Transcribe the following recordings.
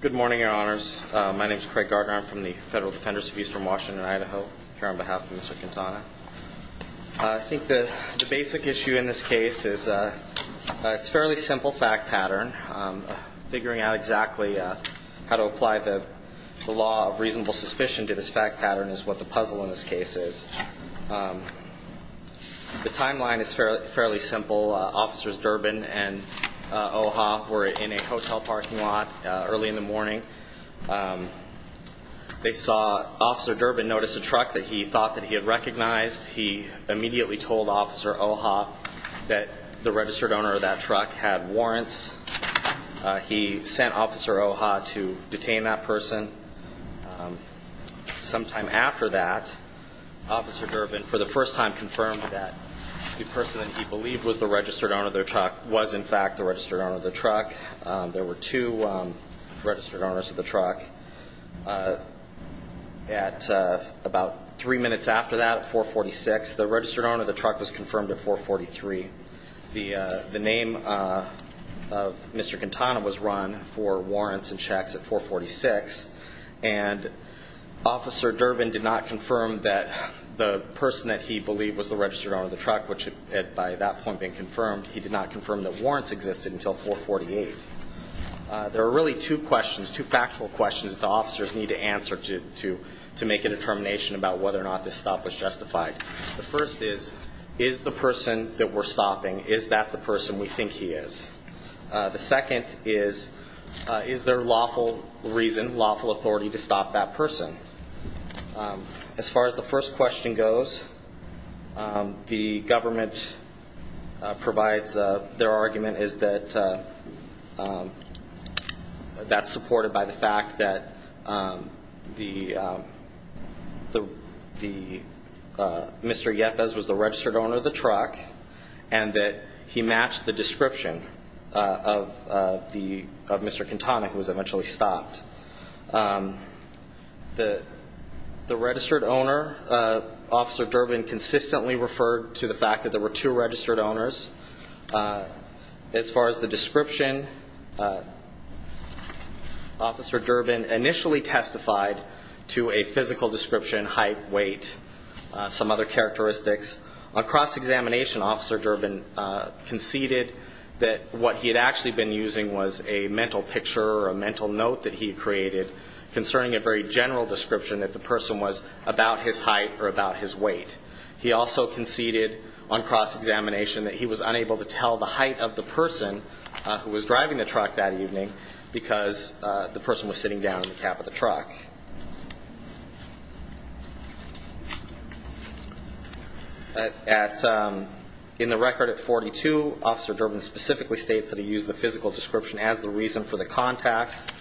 Good morning, your honors. My name is Craig Gardner. I'm from the Federal Defenders of Eastern Washington, Idaho, here on behalf of Mr. Quintana. I think the basic issue in this case is it's a fairly simple fact pattern. Figuring out exactly how to apply the law of reasonable suspicion to this fact pattern is what the puzzle in this case is. The timeline is fairly simple. Officers Durbin and OHA were in a hotel parking lot early in the morning. They saw Officer Durbin notice a truck that he thought that he had recognized. He immediately told Officer OHA that the registered owner of that truck had warrants. He sent Officer OHA to detain that person. Sometime after that, Officer Durbin for the first time confirmed that the person that he believed was the registered owner of the truck was in fact the registered owner of the truck. There were two registered owners of the truck. About three minutes after that, at 446, the registered owner of the truck was confirmed at 443. The name of Mr. Quintana was run for warrants and checks at 446. Officer Durbin did not confirm that the person that he believed was the registered owner of the truck, which had by that point been confirmed, he did not confirm that warrants existed until 448. There are really two questions, two factual questions that the officers need to answer to make a determination about whether or not this stop was justified. The first is, is the person that we're stopping, is that the person we think he is? The second is, is there lawful reason, lawful authority to stop that person? As far as the first question goes, the government provides their argument is that that's supported by the fact that Mr. Yepes was the registered owner of the truck and that he matched the description of Mr. Quintana, who was eventually stopped. The registered owner, Officer Durbin, consistently referred to the fact that there were two registered owners. As far as the description, Officer Durbin initially testified to a physical description, height, weight, some other characteristics. On cross-examination, Officer Durbin conceded that what he had actually been using was a mental picture or a mental note that he had created concerning a very general description that the person was about his height or about his weight. He also conceded on cross-examination that he was unable to tell the height of the person who was driving the truck that evening because the person was sitting down in the cab of the truck. In the record at 42, Officer Durbin specifically states that he used the physical description as the reason for the contact.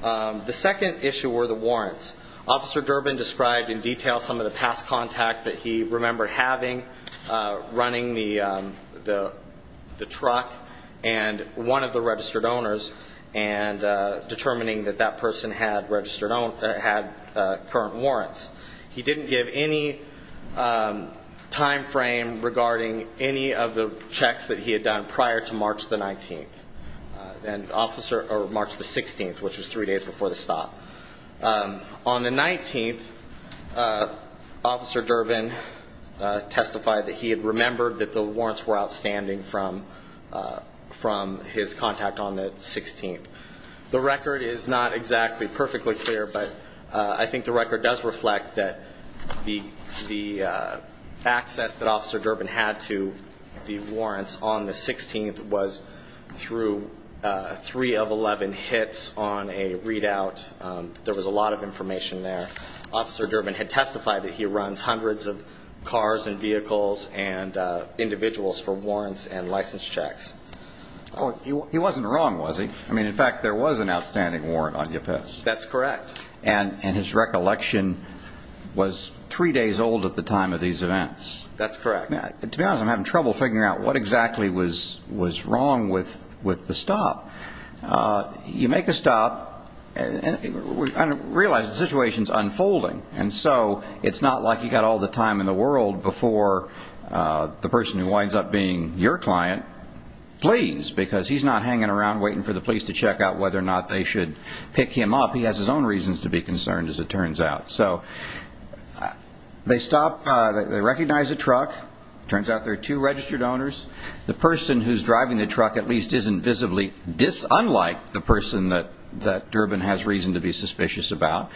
The second issue were the warrants. Officer Durbin described in detail some of the past contact that he remembered having, running the truck, and one of the registered owners, and determining that that person had current warrants. He didn't give any timeframe regarding any of the checks that he had done prior to March the 19th, or March the 16th, which was three days before the stop. On the 19th, Officer Durbin testified that he had remembered that the warrants were outstanding from his contact on the 16th. The record is not exactly perfectly clear, but I think the record does reflect that the access that Officer Durbin had to the warrants on the 16th was through three of 11 hits on a readout. There was a lot of information there. Officer Durbin had testified that he runs hundreds of cars and vehicles and individuals for warrants and license checks. Oh, he wasn't wrong, was he? I mean, in fact, there was an outstanding warrant on UPS. That's correct. And his recollection was three days old at the time of these events. That's correct. To be honest, I'm having trouble figuring out what exactly was wrong with the stop. You make a stop and realize the situation is unfolding, and so it's not like you've got all the time in the world before the person who winds up being your client pleads because he's not hanging around waiting for the police to check out whether or not they should pick him up. He has his own reasons to be concerned, as it turns out. So they stop. They recognize a truck. It turns out there are two registered owners. The person who's driving the truck at least isn't visibly unlike the person that Durbin has reason to be suspicious about.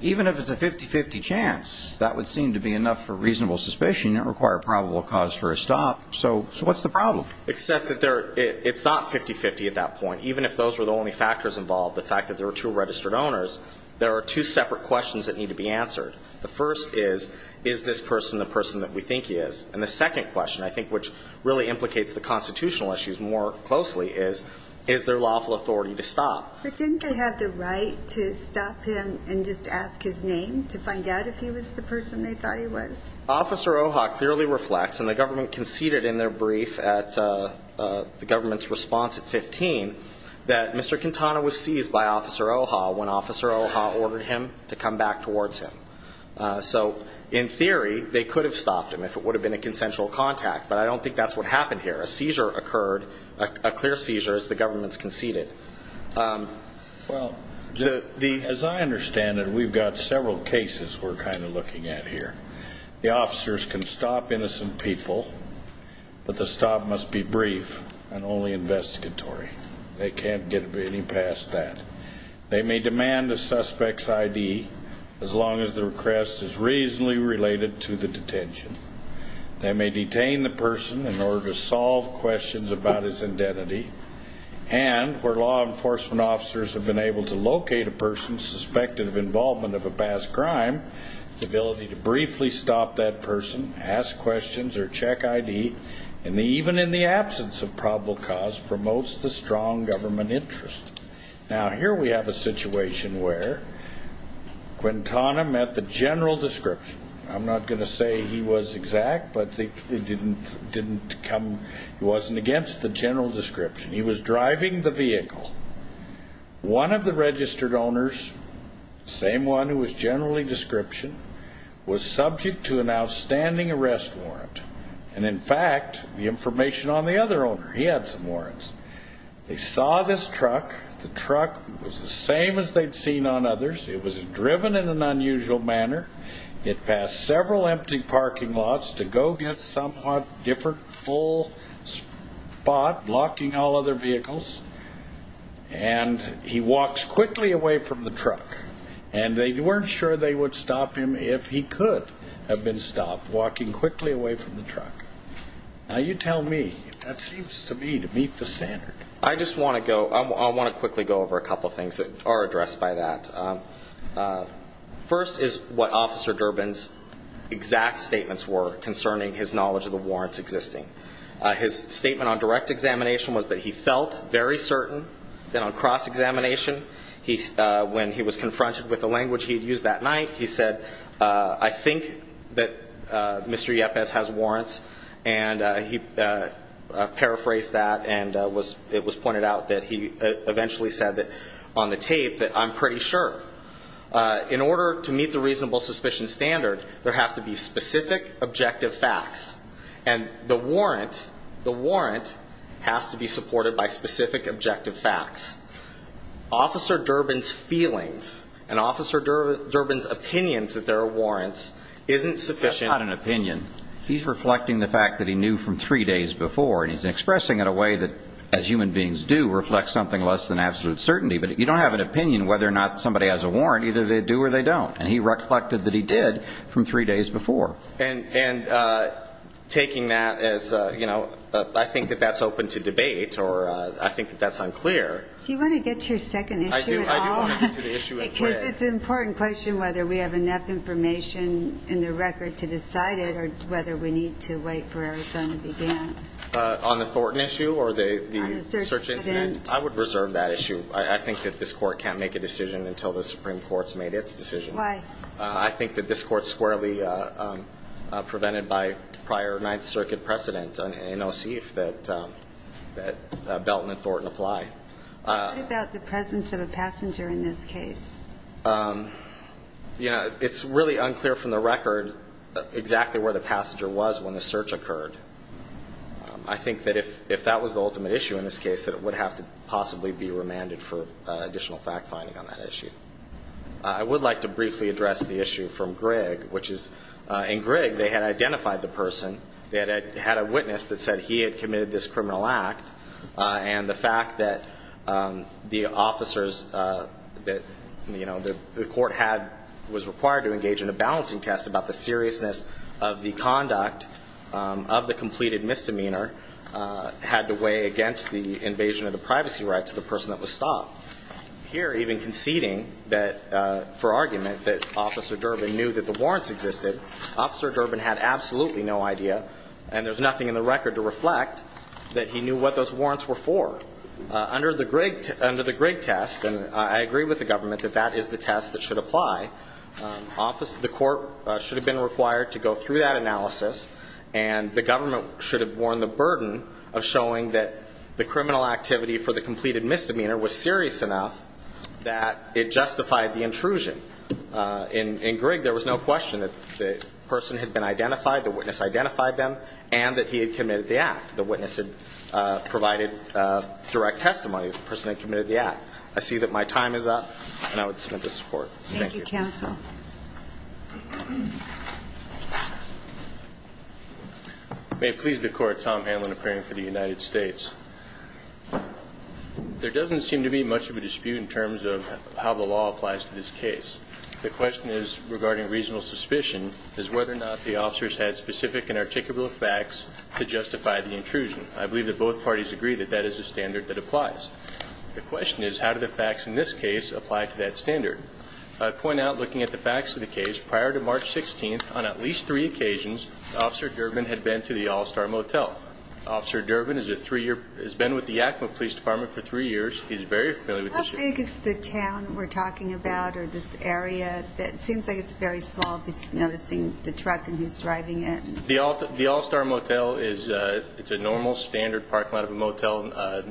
Even if it's a 50-50 chance, that would seem to be enough for reasonable suspicion. It would require probable cause for a stop. So what's the problem? Except that it's not 50-50 at that point. Even if those were the only factors involved, the fact that there were two registered owners, there are two separate questions that need to be answered. The first is, is this person the person that we think he is? And the second question, I think which really implicates the constitutional issues more closely, is is there lawful authority to stop? But didn't they have the right to stop him and just ask his name to find out if he was the person they thought he was? Officer Oha clearly reflects, and the government conceded in their brief at the government's response at 15, that Mr. Quintana was seized by Officer Oha when Officer Oha ordered him to come back towards him. So in theory, they could have stopped him if it would have been a consensual contact, but I don't think that's what happened here. A seizure occurred, a clear seizure as the government's conceded. Well, as I understand it, we've got several cases we're kind of looking at here. The can't get any past that. They may demand the suspect's ID as long as the request is reasonably related to the detention. They may detain the person in order to solve questions about his identity. And where law enforcement officers have been able to locate a person suspected of involvement of a past crime, the ability to briefly stop that person, ask questions or check ID, and even in the absence of probable cause, promotes the strong government interest. Now, here we have a situation where Quintana met the general description. I'm not going to say he was exact, but he didn't come, he wasn't against the general description. He was driving the vehicle. One of the registered owners, same one who was generally description, was subject to an outstanding arrest warrant. And in fact, the information on the other owner, he had some warrants. They saw this truck. The truck was the same as they'd seen on others. It was driven in an unusual manner. It passed several empty parking lots to go get somewhat different full spot, blocking all other vehicles. And he walks quickly away from the truck. And they weren't sure they would stop him if he could have been stopped walking quickly away from the truck. Now you tell me, that seems to me to meet the standard. I just want to go, I want to quickly go over a couple of things that are addressed by that. First is what Officer Durbin's exact statements were concerning his knowledge of the warrants existing. His statement on direct examination was that he felt very certain that on cross examination, when he was confronted with the language he'd used that night, he said, I think that Mr. Yepes has warrants. And he paraphrased that and it was pointed out that he eventually said that on the tape, that I'm pretty sure. In order to meet the reasonable suspicion standard, there have to be specific objective facts. And the warrant, the warrant has to be supported by specific objective facts. Officer Durbin's feelings and Officer Durbin's opinions that there are warrants isn't sufficient. That's not an opinion. He's reflecting the fact that he knew from three days before. And he's expressing it in a way that, as human beings do, reflects something less than absolute certainty. But you don't have an opinion whether or not somebody has a warrant, either they do or they don't. And he reflected that he did from three days before. And taking that as, you know, I think that that's open to debate or I think that that's unclear. Do you want to get to your second issue at all? I do. I do want to get to the issue at play. Because it's an important question whether we have enough information in the record to decide it or whether we need to wait for Arizona to begin. On the Thornton issue or the search incident? I would reserve that issue. I think that this Court can't make a decision until the Supreme Court's made its decision. Why? I think that this Court's squarely prevented by prior Ninth Circuit precedent, and I'll see if that Belton and Thornton apply. What about the presence of a passenger in this case? You know, it's really unclear from the record exactly where the passenger was when the search occurred. I think that if that was the ultimate issue in this case, that it would have to possibly be remanded for additional fact-finding on that issue. I would like to briefly address the issue from Grigg, which is in Grigg they had identified the person. They had a witness that said he had committed this criminal act. And the fact that the officers that, you know, the Court had was required to engage in a balancing test about the seriousness of the conduct of the completed misdemeanor had to weigh against the invasion of the privacy rights of the person that was stopped. Here, even conceding that, for argument, that Officer Durbin knew that the warrants existed, Officer Durbin had absolutely no idea, and there's nothing in the record to reflect that he knew what those warrants were. Under the Grigg test, and I agree with the government that that is the test that should apply, the Court should have been required to go through that analysis, and the government should have borne the burden of showing that the criminal activity for the completed misdemeanor was serious enough that it justified the intrusion. In Grigg there was no question that the person had been identified, the witness identified them, and that he had committed the act. The witness had provided direct testimony of the person that had committed the act. I see that my time is up, and I would submit this report. Thank you. May it please the Court, Tom Hanlon, appearing for the United States. There doesn't seem to be much of a dispute in terms of how the law applies to this case. The question is, regarding reasonable suspicion, is whether or not the officers had specific and articulable facts to justify the intrusion. I believe that both parties agree that that is the standard that applies. The question is, how do the facts in this case apply to that standard? I point out, looking at the facts of the case, prior to March 16th, on at least three occasions, Officer Durbin had been to the All-Star Motel. Officer Durbin has been with the Yakima Police Department for three years. He's very familiar with this area. How big is the town we're talking about, or this area? It seems like it's very small, just noticing the truck and who's driving it. The All-Star Motel is a normal, standard parking lot of a motel.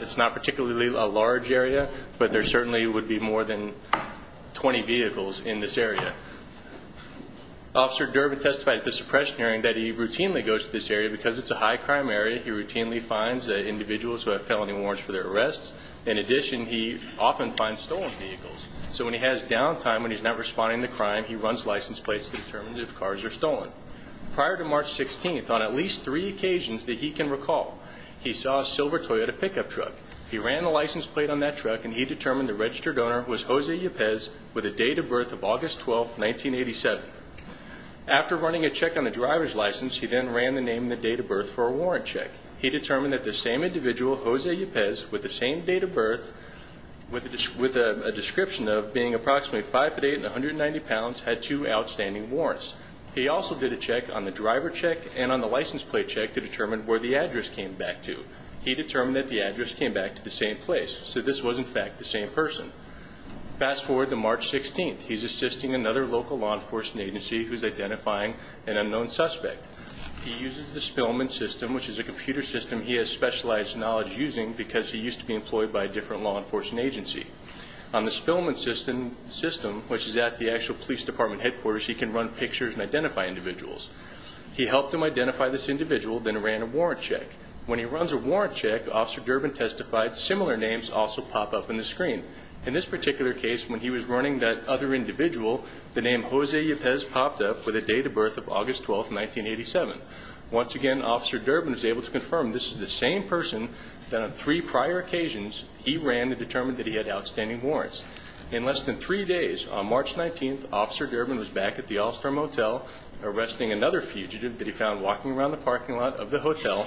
It's not particularly a large area, but there certainly would be more than 20 vehicles in this area. Officer Durbin testified at the suppression hearing that he routinely goes to this area because it's a high-crime area. He routinely finds individuals who have felony warrants for their arrests. In addition, he often finds stolen vehicles. So when he has downtime, when he's not responding to crime, he runs license plates to determine if cars are stolen. Prior to March 16th, on at least three occasions that he can recall, he saw a silver Toyota pickup truck. He ran the license plate on that truck, and he determined the registered owner was Jose Ypez, with a date of birth of August 12, 1987. After running a check on the driver's license, he then ran the name and the date of birth for a warrant check. He determined that the same individual, Jose Ypez, with the same date of birth, with a description of being approximately 5'8 and 190 pounds, had two outstanding warrants. He also did a check on the driver check and on the license plate check to determine where the address came back to. He determined that the address came back to the same place, so this was, in fact, the same person. Fast forward to March 16th. He's assisting another local law enforcement agency who's identifying an unknown suspect. He uses the Spillman system, which is a computer system he has specialized knowledge using, because he used to be employed by a different law enforcement agency. On the Spillman system, which is at the actual police department headquarters, he can run pictures and identify individuals. He helped him identify this individual, then ran a warrant check. When he runs a warrant check, Officer Durbin testified similar names also pop up on the screen. In this particular case, when he was running that other individual, the name Jose Ypez popped up with a date of birth of August 12th, 1987. Once again, Officer Durbin was able to confirm this is the same person that on three prior occasions he ran to determine that he had outstanding warrants. In less than three days, on March 19th, Officer Durbin was back at the All-Star Motel arresting another fugitive that he found walking around the parking lot of the hotel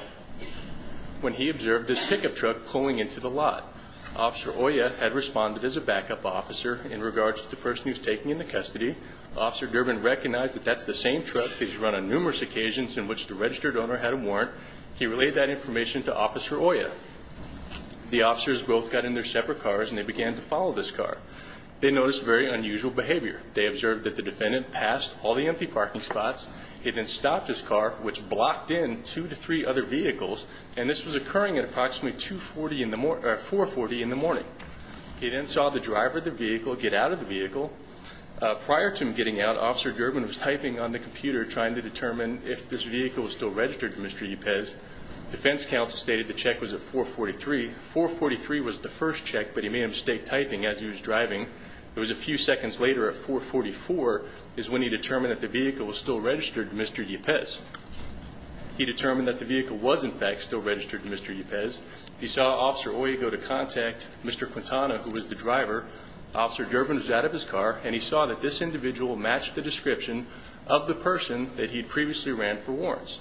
when he observed this pickup truck pulling into the lot. Officer Oya had responded as a backup officer in regards to the person he was taking into custody. Officer Durbin recognized that that's the same truck that he's run on numerous occasions in which the registered owner had a warrant. He relayed that information to Officer Oya. The officers both got in their separate cars, and they began to follow this car. They noticed very unusual behavior. They observed that the defendant passed all the empty parking spots. He then stopped his car, which blocked in two to three other vehicles, and this was occurring at approximately 4.40 in the morning. He then saw the driver of the vehicle get out of the vehicle. Prior to him getting out, Officer Durbin was typing on the computer trying to determine if this vehicle was still registered to Mr. Ypez. Defense counsel stated the check was at 4.43. 4.43 was the first check, but he may have stayed typing as he was driving. It was a few seconds later at 4.44 is when he determined that the vehicle was still registered to Mr. Ypez. He determined that the vehicle was, in fact, still registered to Mr. Ypez. He saw Officer Oya go to contact Mr. Quintana, who was the driver. Officer Durbin was out of his car, and he saw that this individual matched the description of the person that he'd previously ran for warrants.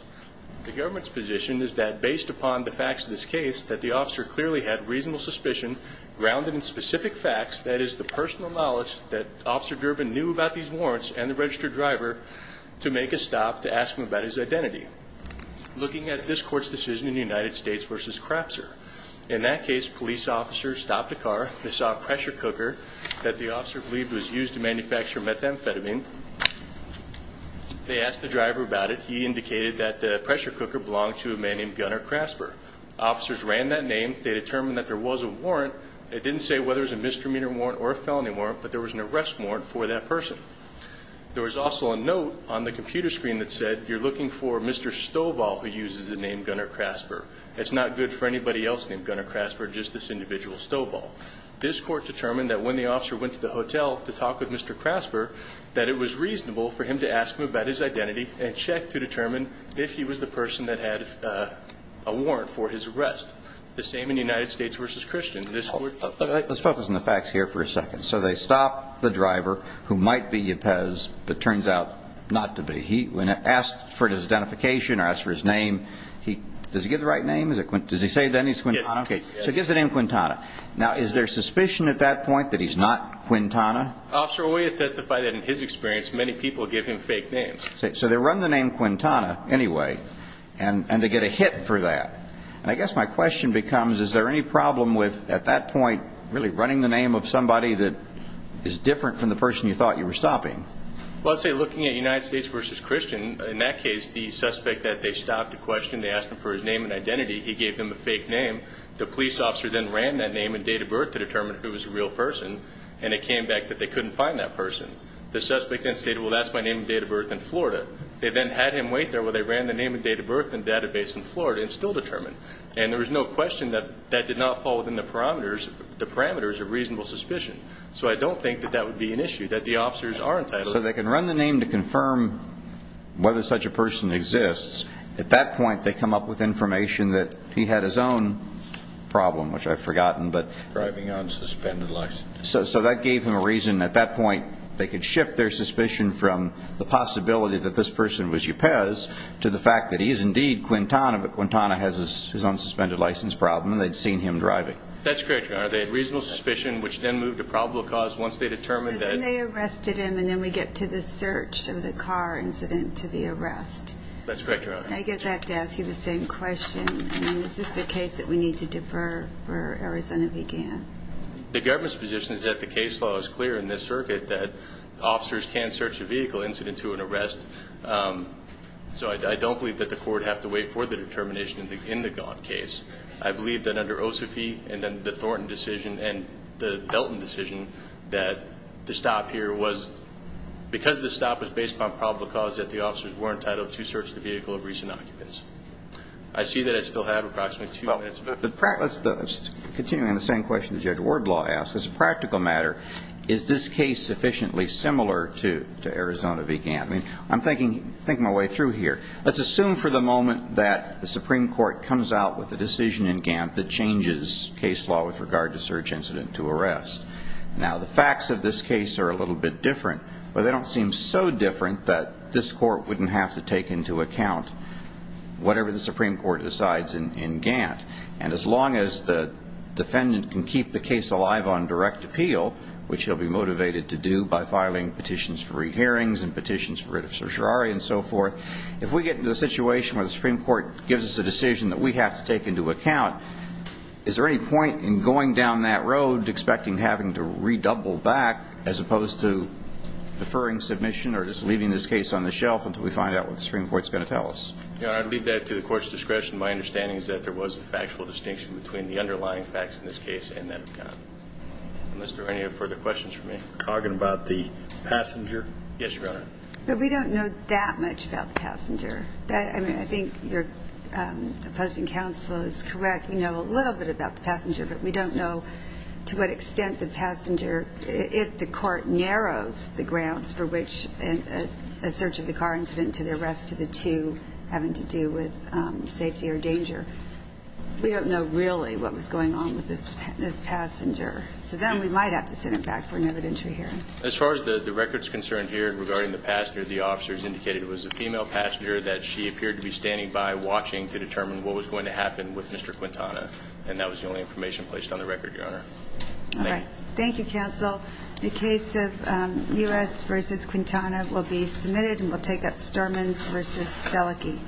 The government's position is that based upon the facts of this case, that the officer clearly had reasonable suspicion grounded in specific facts, that is, the personal knowledge that Officer Durbin knew about these warrants and the registered driver to make a stop to ask him about his identity. Looking at this court's decision in the United States v. Crapser, in that case, police officers stopped the car. They saw a pressure cooker that the officer believed was used to manufacture methamphetamine. They asked the driver about it. He indicated that the pressure cooker belonged to a man named Gunnar Crasper. Officers ran that name. They determined that there was a warrant. It didn't say whether it was a misdemeanor warrant or a felony warrant, but there was an arrest warrant for that person. There was also a note on the computer screen that said, you're looking for Mr. Stovall, who uses the name Gunnar Crasper. It's not good for anybody else named Gunnar Crasper, just this individual Stovall. This court determined that when the officer went to the hotel to talk with Mr. Crasper, that it was reasonable for him to ask him about his identity and check to determine if he was the person that had a warrant for his arrest. The same in the United States v. Christian. Let's focus on the facts here for a second. So they stopped the driver, who might be Yepez, but turns out not to be. He asked for his identification or asked for his name. Does he give the right name? Does he say then he's Quintana? Yes. So he gives the name Quintana. Now, is there suspicion at that point that he's not Quintana? Officer, we testify that in his experience, many people give him fake names. So they run the name Quintana anyway, and they get a hit for that. And I guess my question becomes, is there any problem with, at that point, really running the name of somebody that is different from the person you thought you were stopping? Well, I'd say looking at United States v. Christian, in that case, the suspect that they stopped to question, they asked him for his name and identity, he gave them a fake name. The police officer then ran that name and date of birth to determine if it was a real person, and it came back that they couldn't find that person. The suspect then stated, well, that's my name and date of birth in Florida. They then had him wait there while they ran the name and date of birth and database in Florida and still determined. And there was no question that that did not fall within the parameters of reasonable suspicion. So I don't think that that would be an issue, that the officers are entitled. So they can run the name to confirm whether such a person exists. At that point, they come up with information that he had his own problem, which I've forgotten. Driving on suspended license. So that gave them a reason. At that point, they could shift their suspicion from the possibility that this person was Yupez to the fact that he is indeed Quintana, but Quintana has his own suspended license problem and they'd seen him driving. That's correct, Your Honor. They had reasonable suspicion, which then moved to probable cause once they determined that. So then they arrested him, and then we get to the search of the car incident to the arrest. That's correct, Your Honor. I guess I have to ask you the same question. I mean, is this a case that we need to defer where Arizona began? The government's position is that the case law is clear in this circuit, that officers can search a vehicle incident to an arrest. So I don't believe that the court have to wait for the determination in the Gantt case. I believe that under Osofie and then the Thornton decision and the Belton decision, that the stop here was because the stop was based on probable cause, that the officers were entitled to search the vehicle of recent occupants. I see that I still have approximately two minutes left. Continuing on the same question Judge Wardlaw asked, as a practical matter, is this case sufficiently similar to Arizona v. Gantt? I'm thinking my way through here. Let's assume for the moment that the Supreme Court comes out with a decision in Gantt that changes case law with regard to search incident to arrest. Now, the facts of this case are a little bit different, but they don't seem so different that this court wouldn't have to take into account whatever the Supreme Court decides in Gantt. And as long as the defendant can keep the case alive on direct appeal, which he'll be motivated to do by filing petitions for re-hearings and petitions for writ of certiorari and so forth, if we get into a situation where the Supreme Court gives us a decision that we have to take into account, is there any point in going down that road expecting having to redouble back as opposed to deferring submission or just leaving this case on the shelf until we find out what the Supreme Court's going to tell us? Your Honor, I'd leave that to the Court's discretion. My understanding is that there was a factual distinction between the underlying facts in this case and that of Gantt. Is there any further questions for me? Are you talking about the passenger? Yes, Your Honor. But we don't know that much about the passenger. I mean, I think your opposing counsel is correct. but we don't know to what extent the passenger, if the court narrows the grounds for which a search of the car incident to the arrest of the two having to do with safety or danger. We don't know really what was going on with this passenger. So then we might have to send it back for an evidentiary hearing. As far as the record's concerned here regarding the passenger, the officers indicated it was a female passenger that she appeared to be standing by watching to determine what was going to happen with Mr. Quintana, and that was the only information placed on the record, Your Honor. All right. Thank you, counsel. The case of U.S. v. Quintana will be submitted, and we'll take up Sturmans v. Selicki.